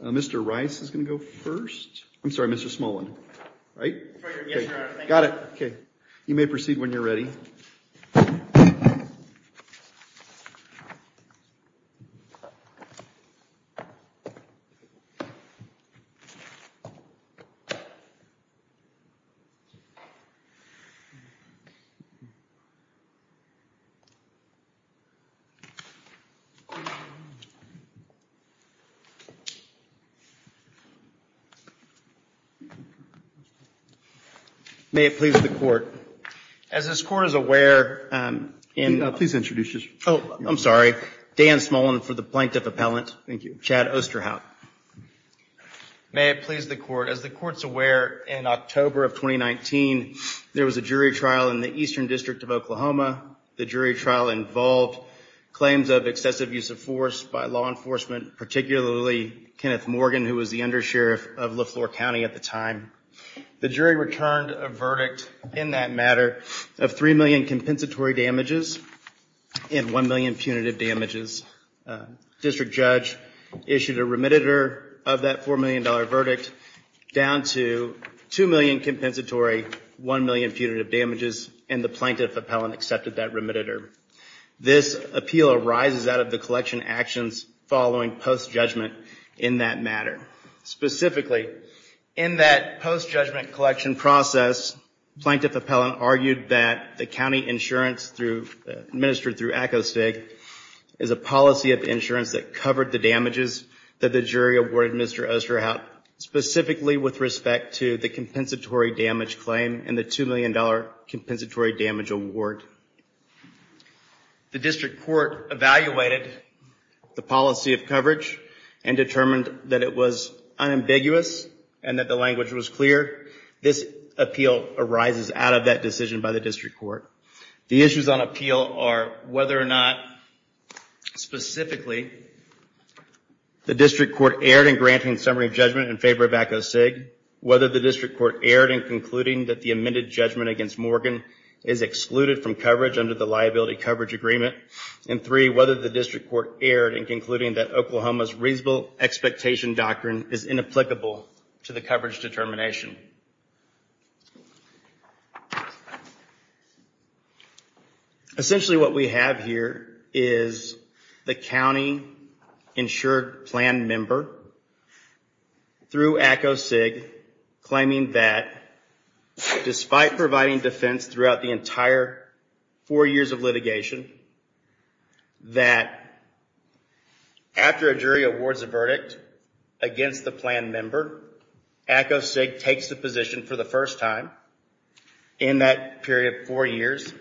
and Mr. Rice is going to go first. I'm sorry, Mr. Smullin. Right. Got it. Okay. You may proceed when you're ready. May it please the court. As this court is aware... Please introduce yourself. Oh, I'm sorry. Dan Smullin for the Plaintiff Appellant. Thank you. Chad Osterhout. May it please the court. As the court's aware, in October of 2019, there was a jury trial in the Eastern District of Oklahoma. The jury trial involved claims of excessive use of force by law enforcement, particularly Kenneth Morgan, who was the undersheriff of LeFlore County at the time. The jury returned a verdict in that matter of $3 million compensatory damages and $1 million punitive damages. District judge issued a remediator of that $4 million verdict down to $2 million compensatory, $1 million punitive damages, and the Plaintiff Appellant accepted that remediator. This appeal arises out of the matter. Specifically, in that post-judgment collection process, Plaintiff Appellant argued that the county insurance administered through ACOSTIG is a policy of insurance that covered the damages that the jury awarded Mr. Osterhout, specifically with respect to the compensatory damage claim and the $2 million compensatory damage award. The district court evaluated the policy of coverage and determined that it was unambiguous and that the language was clear. This appeal arises out of that decision by the district court. The issues on appeal are whether or not, specifically, the district court erred in granting summary judgment in favor of ACOSTIG, whether the district court erred in concluding that the amended judgment against Morgan is excluded from coverage under the liability coverage agreement, and three, whether the district court erred in concluding that Oklahoma's reasonable expectation doctrine is inapplicable to the coverage determination. Essentially, what we have here is the county insured plan member, through ACOSTIG, claiming that despite providing defense throughout the entire four years of litigation, that after a jury awards a verdict against the plan member, ACOSTIG takes the position for the first time in that period of four years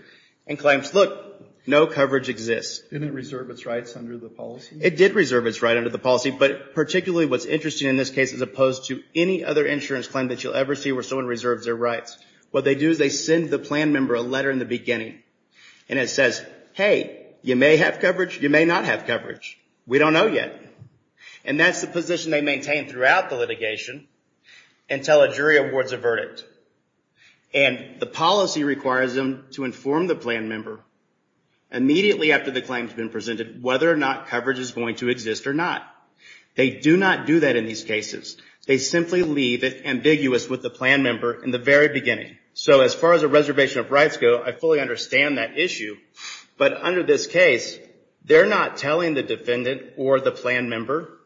and claims, look, no coverage exists. Didn't it reserve its rights under the policy? It did reserve its rights under the policy, but particularly what's interesting in this case, as opposed to any other insurance claim that you'll ever see where someone reserves their rights, what they do is they send the plan member a letter in the beginning, and it says, hey, you may have coverage, you may not have coverage. We don't know yet. And that's the position they maintain throughout the litigation until a jury awards a verdict. And the policy requires them to inform the plan member immediately after the claim has been presented whether or not coverage is going to exist or not. They do not do that in these cases. They simply leave it ambiguous with the plan member in the very beginning. So as far as a reservation of rights go, I fully understand that issue. But under this case, they're not telling the defendant or the plan member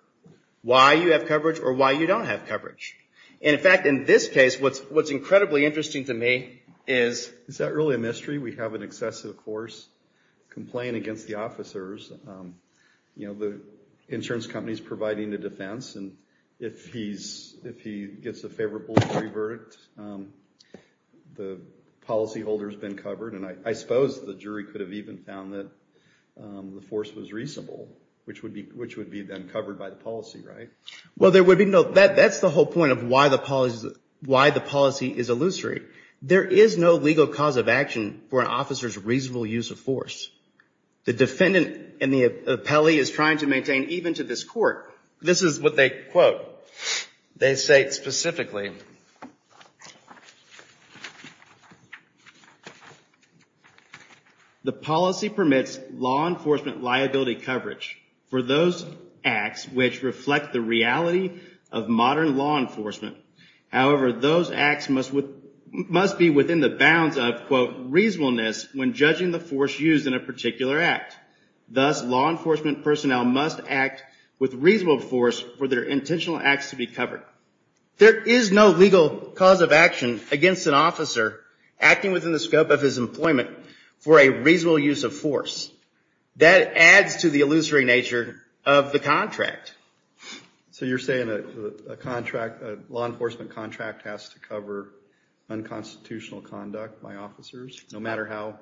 why you have coverage or why you don't have coverage. And in fact, in this case, what's incredibly interesting to me is... Is that really a mystery? We have an excessive force complaining against the officers. The insurance company's providing the defense, and if he gets a favorable jury verdict, the policyholder's been covered. And I suppose the jury could have even found that the force was reasonable, which would be then covered by the policy, right? Well, there would be no... That's the whole point of why the policy is illusory. There is no legal cause of action for an officer's reasonable use of force. The defendant and the appellee is trying to maintain, even to this court, this is what they quote. They say it specifically. The policy permits law enforcement liability coverage for those acts which reflect the reality of modern law enforcement. However, those acts must be within the bounds of, quote, reasonableness when judging the force used in a particular act. Thus, law enforcement personnel must act with reasonable force for their potential acts to be covered. There is no legal cause of action against an officer acting within the scope of his employment for a reasonable use of force. That adds to the illusory nature of the contract. So you're saying that a contract, a law enforcement contract, has to cover unconstitutional conduct by officers, no matter how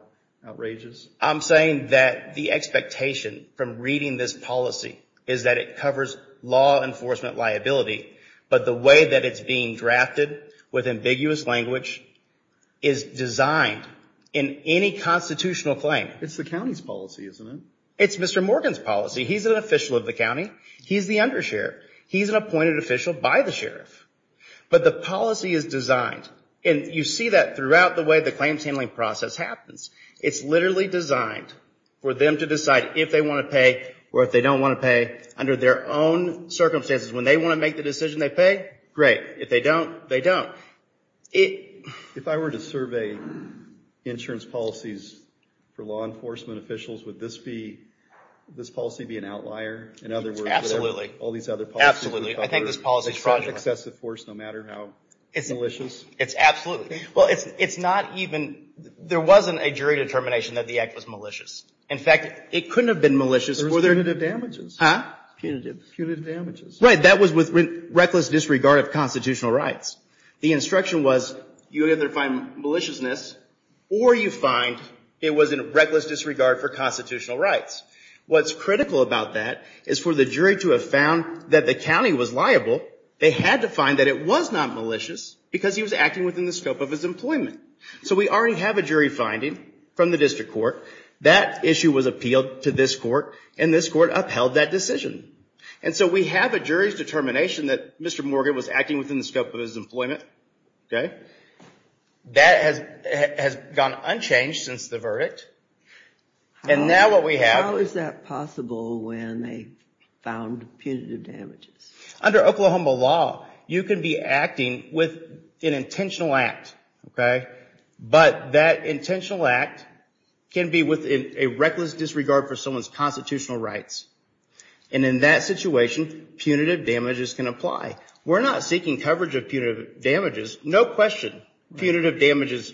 outrageous? I'm saying that the expectation from reading this policy is that it covers law enforcement liability, but the way that it's being drafted with ambiguous language is designed in any constitutional claim. It's the county's policy, isn't it? It's Mr. Morgan's policy. He's an official of the county. He's the undersheriff. He's an appointed official by the sheriff. But the policy is designed, and you see that throughout the way the claims handling process happens, it's literally designed for them to decide if they want to pay or if they don't want to pay under their own circumstances. When they want to make the decision, they pay. Great. If they don't, they don't. If I were to survey insurance policies for law enforcement officials, would this policy be an outlier? In other words, would all these other policies cover excessive force, no matter how malicious? It's absolutely. Well, it's not even, there wasn't a jury determination that the act was malicious. In fact, it couldn't have been malicious. There was punitive damages. Huh? Punitive damages. Right. That was with reckless disregard of constitutional rights. The instruction was, you either find maliciousness or you find it was in reckless disregard for constitutional rights. What's critical about that is for the jury to have found that the county was liable, they had to find that it was not malicious because he was acting within the scope of his employment. So we already have a jury finding from the district court. That issue was appealed to this court, and this court upheld that decision. And so we have a jury's determination that Mr. Morgan was acting within the scope of his employment. That has gone unchanged since the verdict. And now what we have... How is that possible when they found punitive damages? Under Oklahoma law, you can be acting with an intentional act, okay? But that intentional act can be within a reckless disregard for someone's constitutional rights. And in that situation, punitive damages can apply. We're not seeking coverage of punitive damages, no question. Punitive damages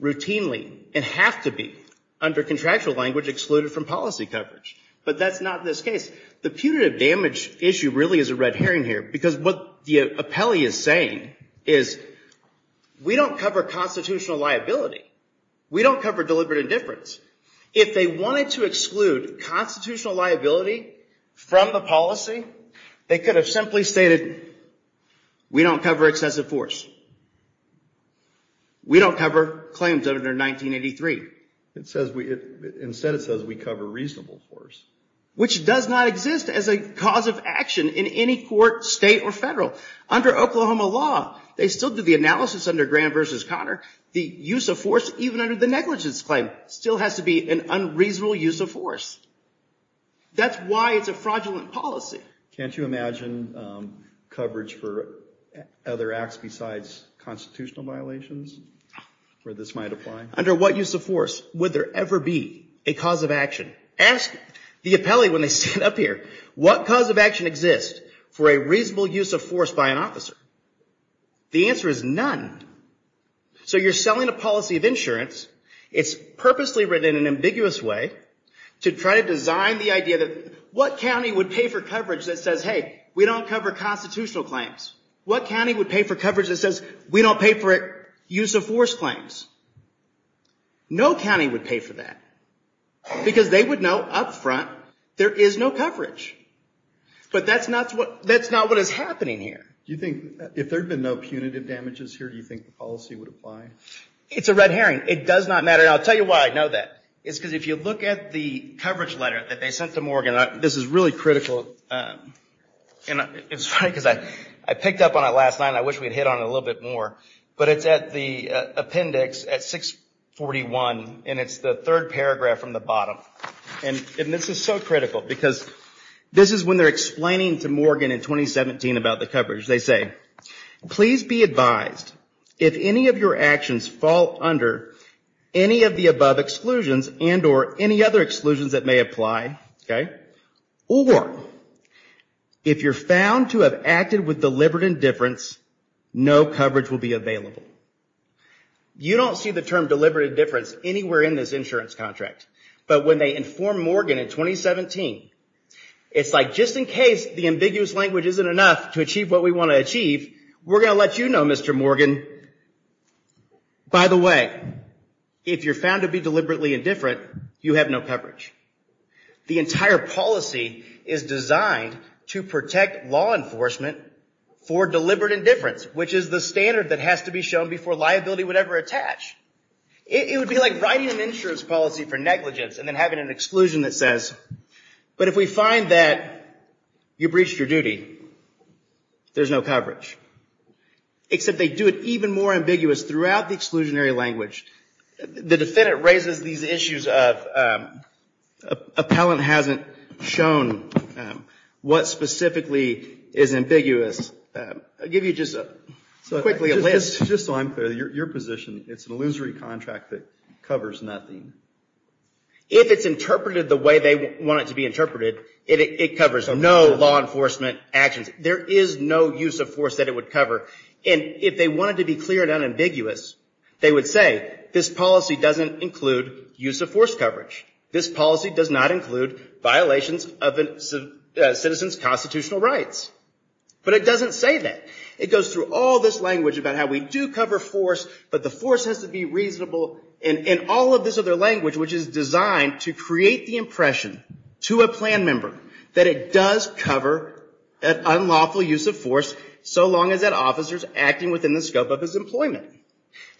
routinely and have to be, under contractual language, excluded from policy coverage. But that's not this case. The punitive damage issue really is a red herring here because what the appellee is saying is, we don't cover constitutional liability. We don't cover deliberate indifference. If they wanted to exclude constitutional liability from the policy, they could have simply stated, we don't cover excessive force. We don't cover claims under 1983. Instead, it says we cover reasonable force. Which does not exist as a cause of action in any court, state or federal. Under Oklahoma law, they still do the analysis under Graham versus Conner. The use of force, even under the negligence claim, still has to be an unreasonable use of force. That's why it's a fraudulent policy. Can't you imagine coverage for other acts besides constitutional violations where this might apply? Under what use of force would there ever be a cause of action? Ask the appellee when they stand up here. What cause of action exists for a reasonable use of force by an officer? The answer is none. So you're selling a policy of insurance. It's purposely written in an ambiguous way to try to design the idea that what county would pay for coverage that says, hey, we don't cover constitutional claims? What county would pay for coverage that says, we don't pay for use of force claims? No county would pay for that. Because they would know up front, there is no coverage. But that's not what is happening here. Do you think, if there had been no punitive damages here, do you think the policy would apply? It's a red herring. It does not matter. I'll tell you why I know that. It's because if you look at the coverage letter that they sent to Morgan, this is really critical. I picked up on it last night, and I wish we'd hit on it a little bit more. But it's at the appendix at 641, and it's the third paragraph from the bottom. And this is so critical, because this is when they're explaining to Morgan in 2017 about the coverage. They say, please be advised, if any of your actions fall under any of the above exclusions and or any other exclusions that may apply, or if you're found to have acted with deliberate indifference, no coverage will be available. You don't see the term deliberate indifference anywhere in this insurance contract. But when they inform Morgan in 2017, it's like, just in case the ambiguous language isn't enough to achieve what we want to achieve, we're going to let you know, Mr. Morgan. By the way, if you're found to be deliberately indifferent, you have no coverage. The entire policy is designed to protect law enforcement for deliberate indifference, which is the standard that has to be shown before liability would ever attach. It would be like writing an insurance policy for negligence and then having an exclusion that says, but if we find that you breached your duty, there's no coverage. Except they do it even more ambiguous throughout the exclusionary language. The defendant raises these issues of, appellant hasn't shown what specifically is ambiguous. I'll give you just quickly a list. Just so I'm clear, your position, it's an illusory contract that covers nothing. If it's interpreted the way they want it to be interpreted, it covers no law enforcement actions. There is no use of force that it would cover. And if they wanted to be clear and unambiguous, they would say, this policy doesn't include use of force coverage. This policy does not include violations of citizens' constitutional rights. But it doesn't say that. It goes through all this language about how we do cover force, but the force has to be reasonable. And all of this other language, which is designed to create the impression to a plan member that it does cover an unlawful use of force, so long as that officer is acting within the scope of his employment.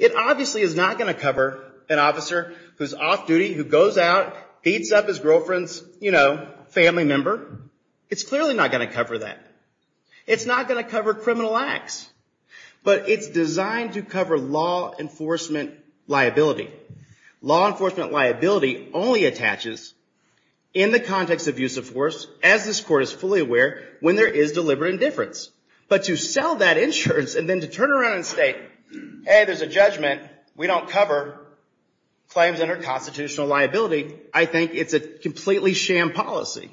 It obviously is not going to cover an officer who's off duty, who goes out, beats up his girlfriend's family member. It's clearly not going to cover that. It's not going to cover criminal acts. But it's designed to cover law enforcement liability. Law enforcement liability only attaches in the context of use of force, as this court is fully aware, when there is deliberate indifference. But to sell that insurance and then to turn around and say, hey, there's a judgment, we don't cover claims under constitutional liability, I think it's a completely sham policy.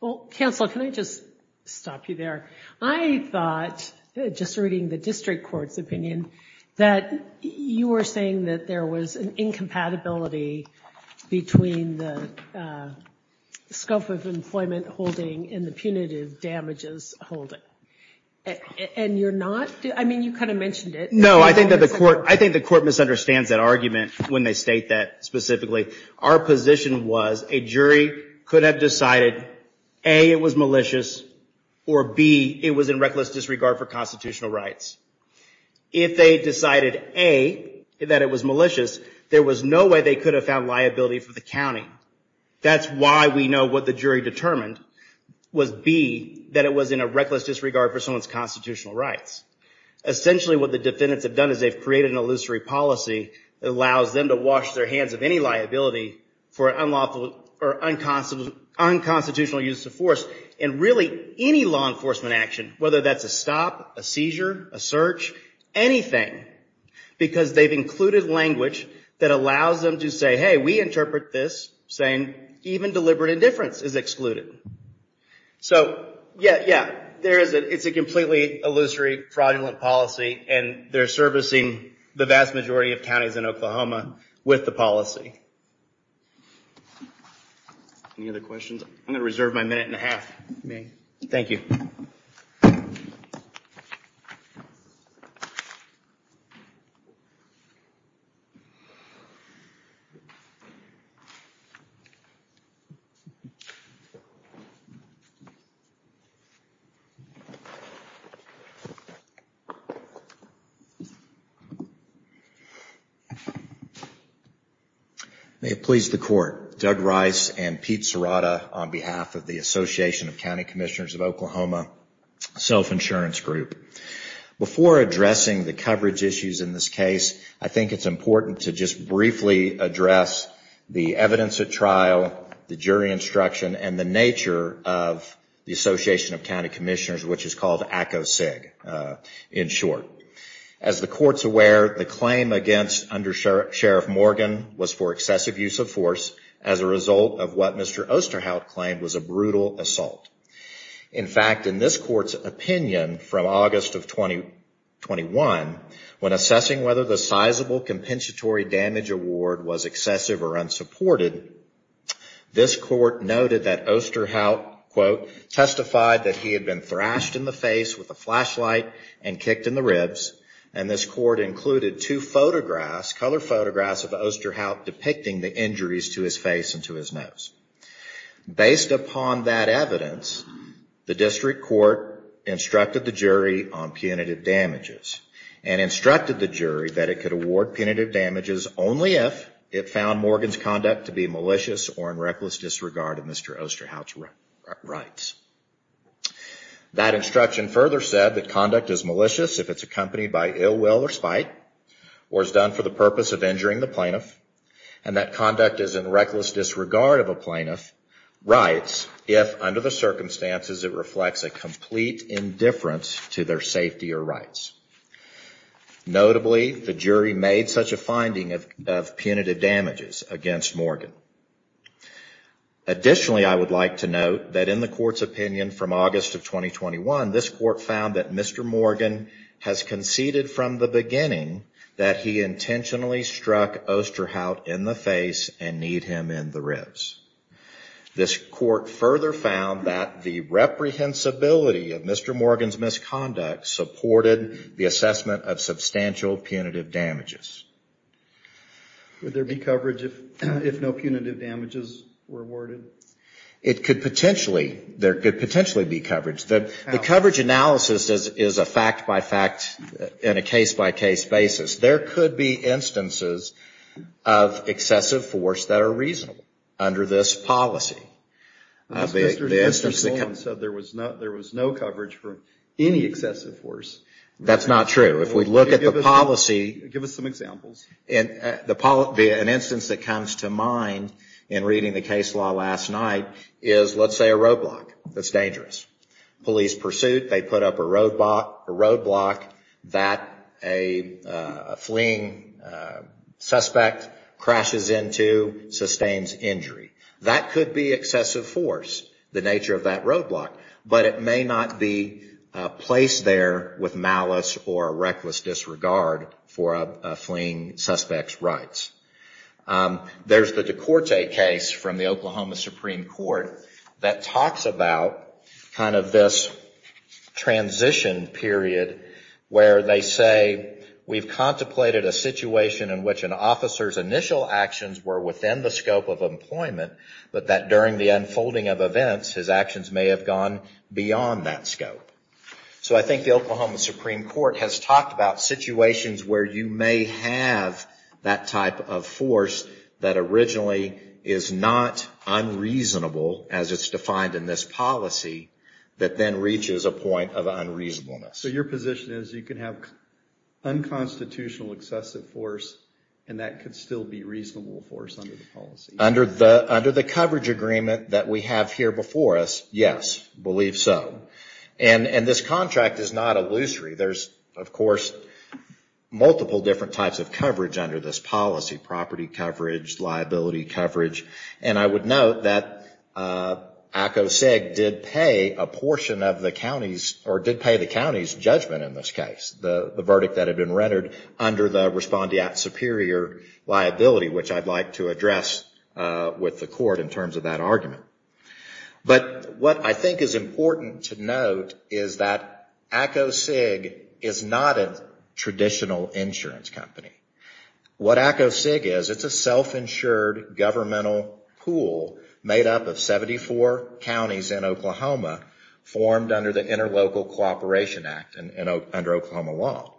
Well, counsel, can I just stop you there? I thought, just reading the district court's opinion, that you were saying that there was an incompatibility between the scope of employment holding and the punitive damages holding. And you're not? I mean, you kind of mentioned it. No, I think the court misunderstands that argument when they state that specifically. Our position was a jury could have decided, A, it was malicious, or B, it was in reckless disregard for constitutional rights. If they decided A, that it was malicious, there was no way they could have found liability for the county. That's why we know what the jury determined was B, that it was in a reckless disregard for someone's constitutional rights. Essentially, what the defendants have done is they've created an illusory policy that allows them to wash their hands of any liability for unconstitutional use of force. And really, any law enforcement action, whether that's a stop, a seizure, a search, anything, because they've included language that allows them to say, hey, we interpret this saying even deliberate indifference is excluded. So yeah, it's a completely illusory, fraudulent policy, and they're servicing the vast majority of counties in Oklahoma with the policy. Any other questions? I'm going to reserve my minute and a half, if you may. Thank you. May it please the court. Doug Rice and Pete Serrata on behalf of the Association of County Commissioners of Oklahoma Self Insurance Group. Before addressing the coverage issues in this case, I think it's important to just briefly address the evidence at trial, the jury instruction, and the nature of the Association of County Commissioners, which is called ACOCIG in short. As the court's aware, the claim against Under Sheriff Morgan was for excessive damage. In 1921, when assessing whether the sizable compensatory damage award was excessive or unsupported, this court noted that Osterhout, quote, testified that he had been thrashed in the face with a flashlight and kicked in the ribs. And this court included two photographs, color photographs of Osterhout depicting the injuries to his face and to his nose. Based upon that evidence, the district court instructed the jury on punitive damages, and instructed the jury that it could award punitive damages only if it found Morgan's conduct to be malicious or in reckless disregard of Mr. Osterhout's rights. That instruction further said that conduct is malicious if it's accompanied by ill will or spite, or is done for the purpose of injuring the plaintiff, and that conduct is in reckless disregard of a plaintiff's rights if, under the circumstances, it reflects a complete indifference to their safety or rights. Notably, the jury made such a finding of punitive damages against Morgan. Additionally, I would like to note that in the court's opinion from August of 2021, this court found that Mr. Morgan has conceded from the beginning that he intentionally struck Osterhout in the face and kneed him in the ribs. This court further found that the reprehensibility of Mr. Morgan's conduct supported the assessment of substantial punitive damages. Would there be coverage if no punitive damages were awarded? It could potentially. There could potentially be coverage. The coverage analysis is a fact-by-fact and a case-by-case basis. There could be instances of excessive force that are reasonable under this policy. Mr. Sloan said there was no coverage for any excessive force. That's not true. If we look at the policy, an instance that comes to mind in reading the case law last night is, let's say, a roadblock that's dangerous. Police pursuit, they put up a roadblock that a fleeing suspect crashes into, sustains injury. That could be excessive force, the nature of that roadblock. But it may not be placed there with malice or a reckless disregard for a fleeing suspect's rights. There's the Decorte case from the Oklahoma Supreme Court that talks about this transition period where they say, we've contemplated a situation in which an officer's initial actions were within the scope of employment, but that during the unfolding of events, his actions may have gone beyond that scope. So I think the Oklahoma Supreme Court has talked about situations where you may have that type of force that originally is not unreasonable, as it's defined in this policy, that then reaches a point of unreasonableness. So your position is you can have unconstitutional excessive force, and that could still be reasonable force under the policy? Under the coverage agreement that we have here before us, yes, I believe so. And this contract is not illusory. There's, of course, multiple different types of coverage under this policy, property coverage, liability coverage. And I would note that ACOSIG did pay a portion of the county's, or did pay the county's judgment in this case, the verdict that had been rendered under the respondeat superior liability, which I'd like to address with the court in terms of that argument. But what I think is important to note is that ACOSIG is not a traditional insurance company. What ACOSIG is, it's a self-insured governmental pool made up of 74 counties in Oklahoma formed under the Interlocal Cooperation Act under Oklahoma law.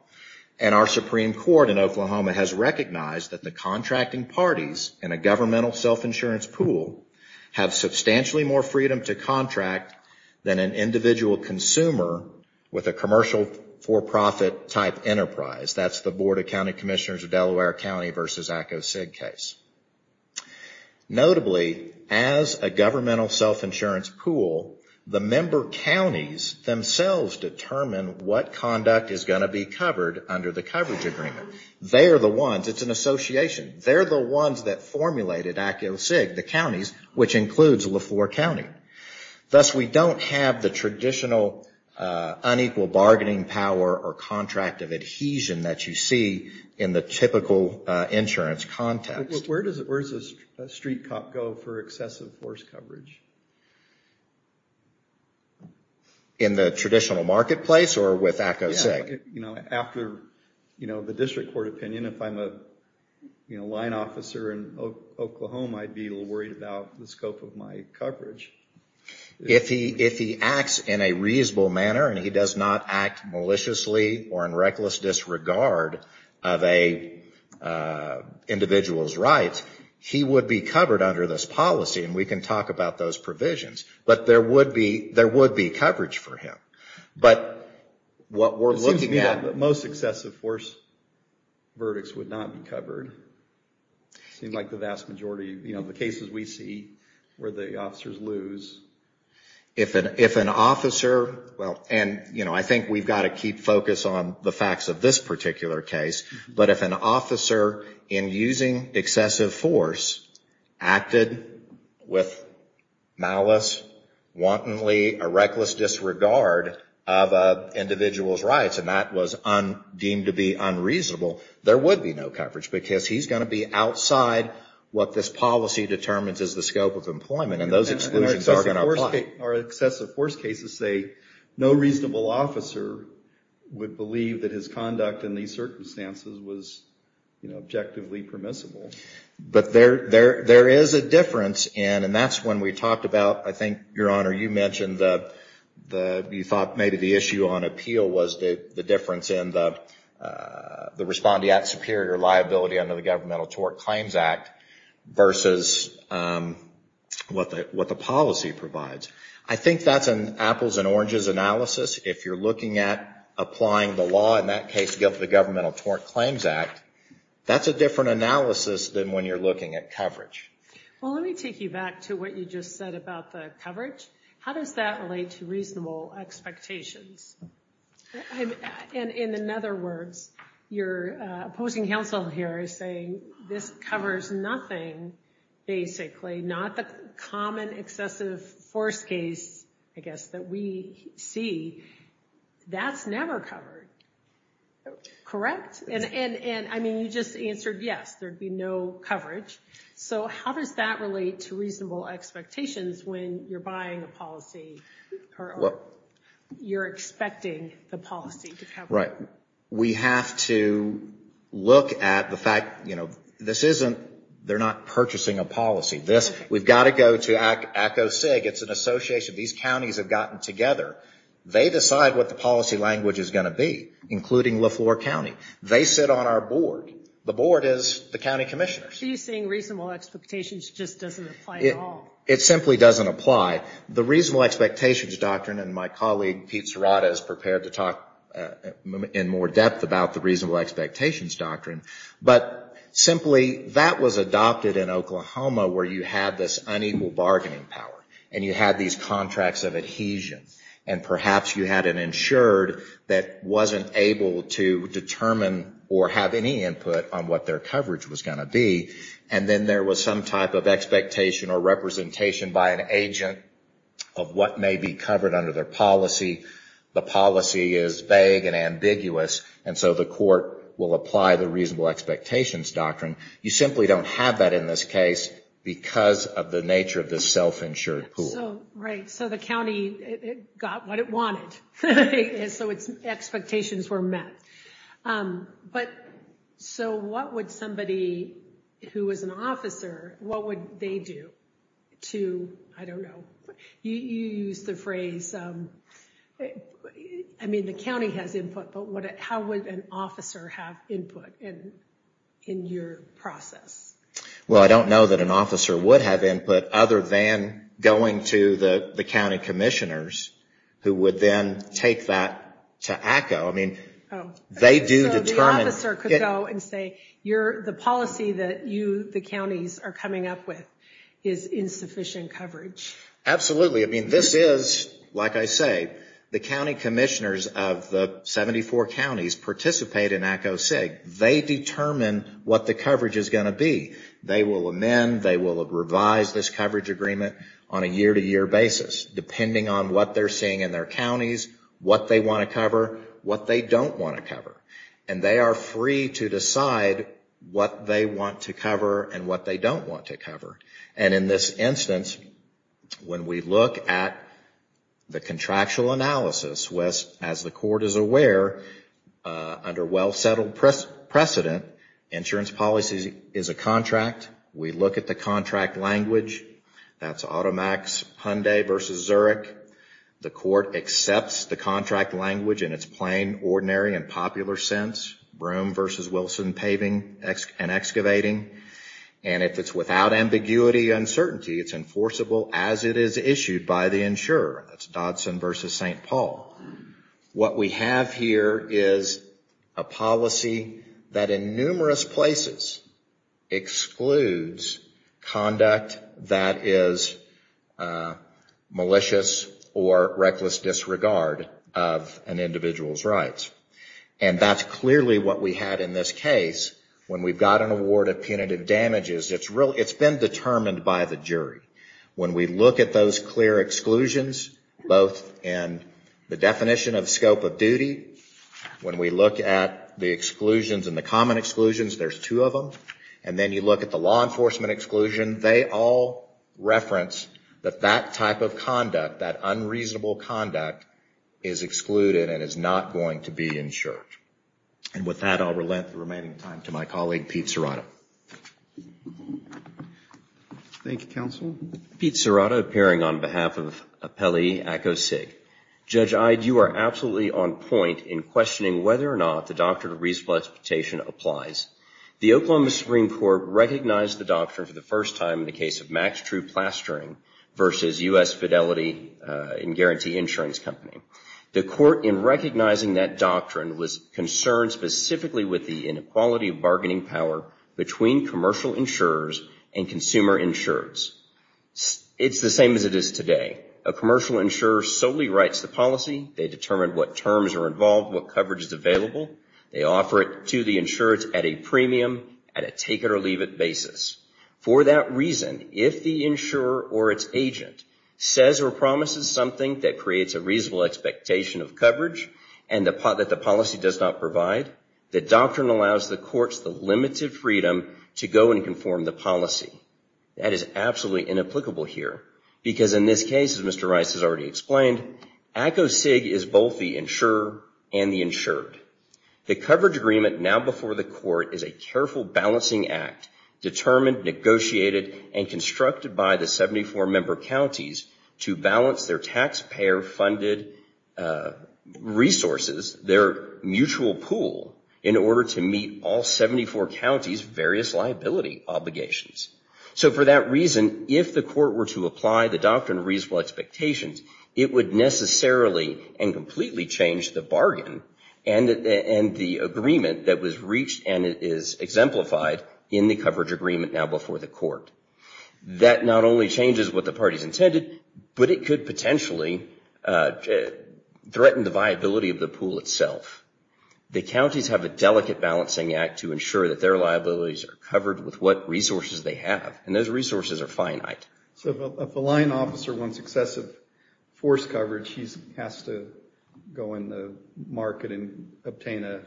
And our Supreme Court in Oklahoma has recognized that the contracting parties in a governmental self-insurance pool have substantially more freedom to contract than an individual consumer with a commercial for-profit type enterprise. That's the Board of County Commissioners of Delaware County versus ACOSIG case. Notably, as a governmental self-insurance pool, the member counties themselves determine what conduct is going to be covered under the coverage agreement. They are the ones, it's an association, they're the ones that formulated ACOSIG, the counties, which includes LeFore County. Thus, we don't have the traditional unequal bargaining power or contract of adhesion that you see in the typical insurance context. Where does a street cop go for excessive force coverage? In the traditional marketplace or with ACOSIG? You know, after the district court opinion, if I'm a line officer in Oklahoma, I'd be a little worried about the scope of my coverage. If he acts in a reasonable manner and he does not act maliciously or in reckless disregard of an individual's rights, he would be covered under this policy. And we can talk about those provisions. But there would be coverage for him. But what we're looking at... It seems to me that most excessive force verdicts would not be covered. It seems like the vast majority of the cases we see where the officers lose. If an officer, and I think we've got to keep focus on the facts of this particular case, but if an officer in using excessive force acted with malice, wantonly, a reckless disregard of an individual's rights, and that was deemed to be unreasonable, there would be no coverage. Because he's going to be outside what this policy determines is the scope of employment. And those exclusions are going to apply. Our excessive force cases say no reasonable officer would believe that his conduct in these circumstances was objectively permissible. But there is a difference. And that's when we talked about, I think, Your Honor, you mentioned that you thought maybe the issue on appeal was the difference. And the respondeat superior liability under the Governmental Tort Claims Act versus what the policy provides. I think that's an apples and oranges analysis. If you're looking at applying the law, in that case, to go to the Governmental Tort Claims Act, that's a different analysis than when you're looking at coverage. Well, let me take you back to what you just said about the coverage. How does that relate to reasonable expectations? And in other words, your opposing counsel here is saying this covers nothing, basically, not the common excessive force case, I guess, that we see. That's never covered. Correct? And I mean, you just answered yes, there'd be no coverage. So how does that relate to reasonable expectations when you're buying a policy? Or you're expecting the policy to cover it? Right. We have to look at the fact, you know, this isn't, they're not purchasing a policy. This, we've got to go to ACO SIG. It's an association. These counties have gotten together. They decide what the policy language is going to be, including Leflore County. They sit on our board. The board is the county commissioners. So you're saying reasonable expectations just doesn't apply at all? It simply doesn't apply. The reasonable expectations doctrine, and my colleague Pete Serrata is prepared to talk in more depth about the reasonable expectations doctrine. But simply, that was adopted in Oklahoma, where you had this unequal bargaining power. And you had these contracts of adhesion. And perhaps you had an insured that wasn't able to determine or have any input on what their coverage was going to be. And then there was some type of expectation or representation by an agent of what may be covered under their policy. The policy is vague and ambiguous. And so the court will apply the reasonable expectations doctrine. You simply don't have that in this case because of the nature of this self-insured pool. Right. So the county got what it wanted. So its expectations were met. But so what would somebody who was an officer, what would they do to, I don't know, you use the phrase, I mean, the county has input. But how would an officer have input in your process? Well, I don't know that an officer would have input other than going to the county commissioners who would then take that to ACCO. I mean, they do determine. So the officer could go and say, the policy that you, the counties, are coming up with is insufficient coverage. Absolutely. I mean, this is, like I say, the county commissioners of the 74 counties participate in ACCO SIG. They determine what the coverage is going to be. They will amend, they will revise this coverage agreement on a year to year basis, depending on what they're seeing in their counties, what they want to cover, what they don't want to cover. And they are free to decide what they want to cover and what they don't want to cover. And in this instance, when we look at the contractual analysis, as the court is aware, under well-settled precedent, insurance policy is a contract. We look at the contract language. That's AutoMax Hyundai versus Zurich. The court accepts the contract language in its plain, ordinary, and popular sense, Broome versus Wilson paving and excavating. And if it's without ambiguity, uncertainty, it's enforceable as it is issued by the insurer. That's Dodson versus St. Paul. What we have here is a policy that in numerous places excludes conduct that is malicious or reckless disregard of an individual's rights. And that's clearly what we had in this case. When we've got an award of punitive damages, it's been determined by the jury. When we look at those clear exclusions, both in the definition of scope of duty, when we look at the exclusions and the common exclusions, there's two of them. And then you look at the law enforcement exclusion. They all reference that that type of conduct, that unreasonable conduct, is excluded and is not going to be insured. And with that, I'll relent the remaining time to my colleague, Pete Serrato. Thank you, counsel. Pete Serrato, appearing on behalf of Appellee ACO SIG. Judge Ide, you are absolutely on point in questioning whether or not the Doctrine of Resuscitation applies. The Oklahoma Supreme Court recognized the doctrine for the first time in the case of Max True Plastering versus U.S. Fidelity and Guarantee Insurance Company. The court, in recognizing that doctrine, was concerned specifically with the inequality of bargaining power between commercial insurers and consumer insurers. It's the same as it is today. A commercial insurer solely writes the policy. They determine what terms are involved, what coverage is available. They offer it to the insurer at a premium, at a take-it-or-leave-it basis. For that reason, if the insurer or its agent says or promises something that creates a reasonable expectation of coverage and that the policy does not provide, the doctrine allows the courts the limited freedom to go and conform the policy. That is absolutely inapplicable here, because in this case, as Mr. Rice has already explained, ACO SIG is both the insurer and the insured. The coverage agreement now before the court is a careful balancing act determined, negotiated, and constructed by the 74 member counties to balance their taxpayer-funded resources, their mutual pool, in order to meet all 74 counties' various liability obligations. So for that reason, if the court were to apply the doctrine of reasonable expectations, it would necessarily and completely change the bargain and the agreement that was reached and it is exemplified in the coverage agreement now before the court. That not only changes what the parties intended, but it could potentially threaten the viability of the pool itself. The counties have a delicate balancing act to ensure that their liabilities are covered with what resources they have, and those resources are finite. So if a line officer wants excessive force coverage, he has to go in the market and obtain a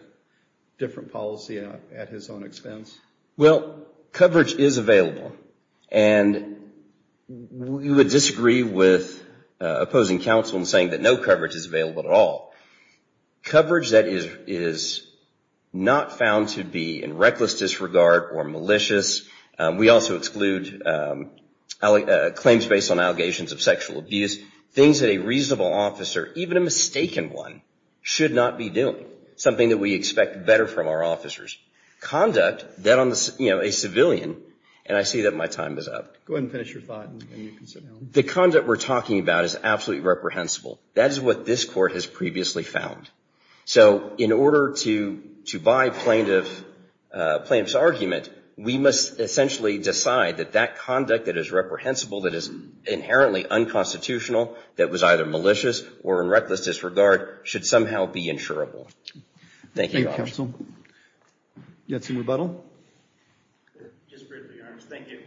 different policy at his own expense? Well, coverage is available, and we would disagree with opposing counsel in saying that no coverage is available at all. Coverage that is not found to be in reckless disregard or malicious, we also exclude claims based on allegations of sexual abuse, things that a reasonable officer, even a mistaken one, should not be doing. Something that we expect better from our officers. Conduct that on a civilian, and I see that my time is up. Go ahead and finish your thought and you can sit down. The conduct we're talking about is absolutely reprehensible. That is what this court has previously found. So in order to buy plaintiff's argument, we must essentially decide that that conduct that is reprehensible, that is inherently unconstitutional, that was either malicious or in reckless disregard, should somehow be insurable. Thank you, Your Honor. Thank you, counsel. You have some rebuttal? Just briefly, Your Honor. Thank you.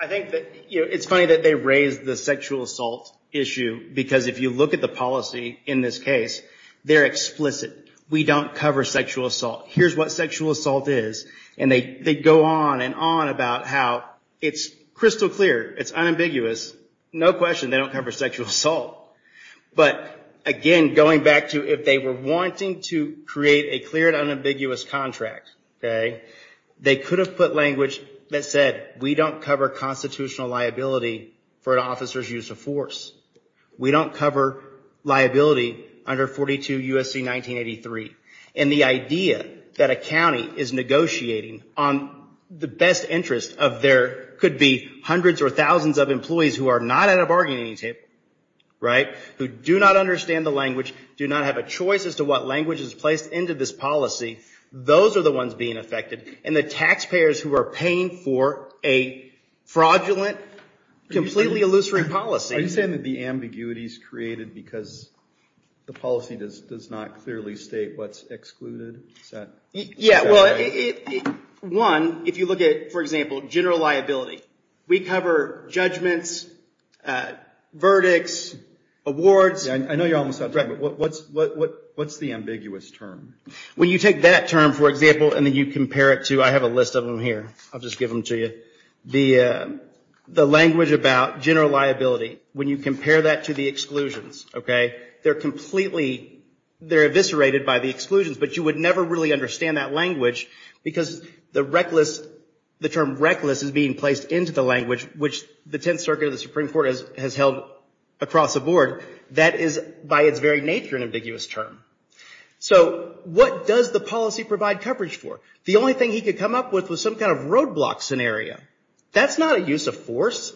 I think that it's funny that they raised the sexual assault issue, because if you look at the policy in this case, they're explicit. We don't cover sexual assault. Here's what sexual assault is. And they go on and on about how it's crystal clear, it's unambiguous. No question, they don't cover sexual assault. But again, going back to if they were wanting to create a clear and unambiguous contract, they could have put language that said, we don't cover constitutional liability for an officer's use of force. We don't cover liability under 42 U.S.C. 1983. And the idea that a county is negotiating on the best interest of their, could be hundreds or thousands of employees who are not at a bargaining table, right, who do not understand the language, do not have a choice as to what language is placed into this policy, those are the ones being affected. And the taxpayers who are paying for a fraudulent, completely illusory policy. Are you saying that the ambiguity is created because the policy does not clearly state what's excluded? Yeah, well, one, if you look at, for example, general liability. We cover judgments, verdicts, awards. I know you're almost out of time, but what's the ambiguous term? When you take that term, for example, and then you compare it to, I have a list of them here, I'll just give them to you. The language about general liability, when you compare that to the exclusions, okay, they're completely, they're eviscerated by the exclusions. But you would never really understand that language because the term reckless is being placed into the language, which the Tenth Circuit of the Supreme Court has held across the board. That is, by its very nature, an ambiguous term. So what does the policy provide coverage for? The only thing he could come up with was some kind of roadblock scenario. That's not a use of force.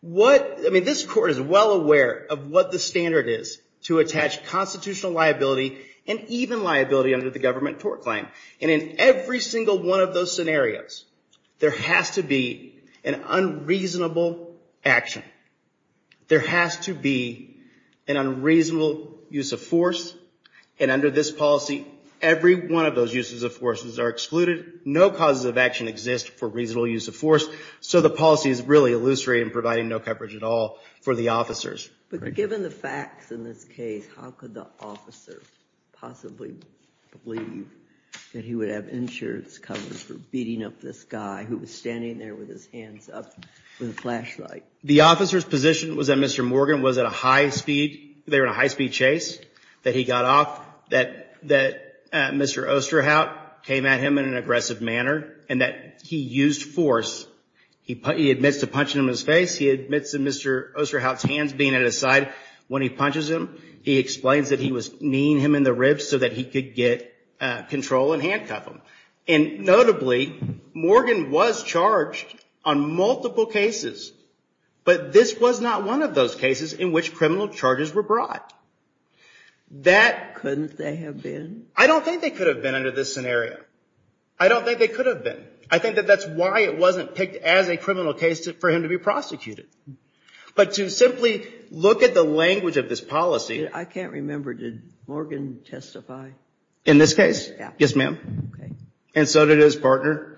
What, I mean, this court is well aware of what the standard is to attach constitutional liability and even liability under the government tort claim. And in every single one of those scenarios, there has to be an unreasonable action. There has to be an unreasonable use of force. And under this policy, every one of those uses of forces are excluded. No causes of action exist for reasonable use of force. So the policy is really illustrating providing no coverage at all for the officers. But given the facts in this case, how could the officer possibly believe that he would have insurance coverage for beating up this guy who was standing there with his hands up with a flashlight? The officer's position was that Mr. Morgan was at a high-speed, they were in a high-speed chase, that he got off, that Mr. Osterhout came at him in an aggressive manner, and that he used force. He admits to punching him in his face. He admits that Mr. Osterhout's hands being at his side when he punches him. He explains that he was kneeing him in the ribs so that he could get control and handcuff him. And notably, Morgan was charged on multiple cases. But this was not one of those cases in which criminal charges were brought. Couldn't they have been? I don't think they could have been under this scenario. I don't think they could have been. I think that that's why it wasn't picked as a criminal case for him to be prosecuted. But to simply look at the language of this policy. I can't remember, did Morgan testify? In this case? Yes, ma'am. And so did his partner.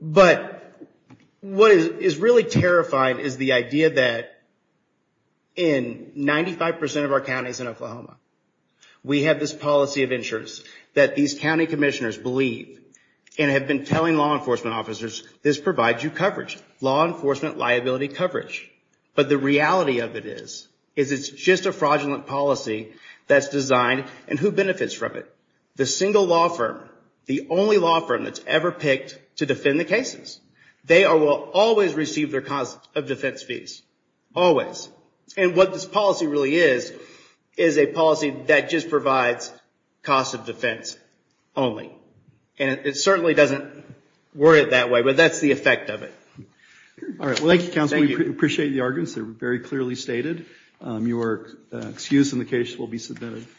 But what is really terrifying is the idea that in 95% of our counties in Oklahoma, we have this policy of insurance that these county commissioners believe and have been telling law enforcement officers, this provides you coverage. Law enforcement liability coverage. But the reality of it is, is it's just a fraudulent policy that's designed. And who benefits from it? The single law firm, the only law firm that's ever picked to defend the cases. They will always receive their cost of defense fees. Always. And what this policy really is, is a policy that just provides cost of defense only. And it certainly doesn't work that way, but that's the effect of it. All right, well, thank you, counsel. We appreciate the arguments. They're very clearly stated. Your excuse in the case will be submitted.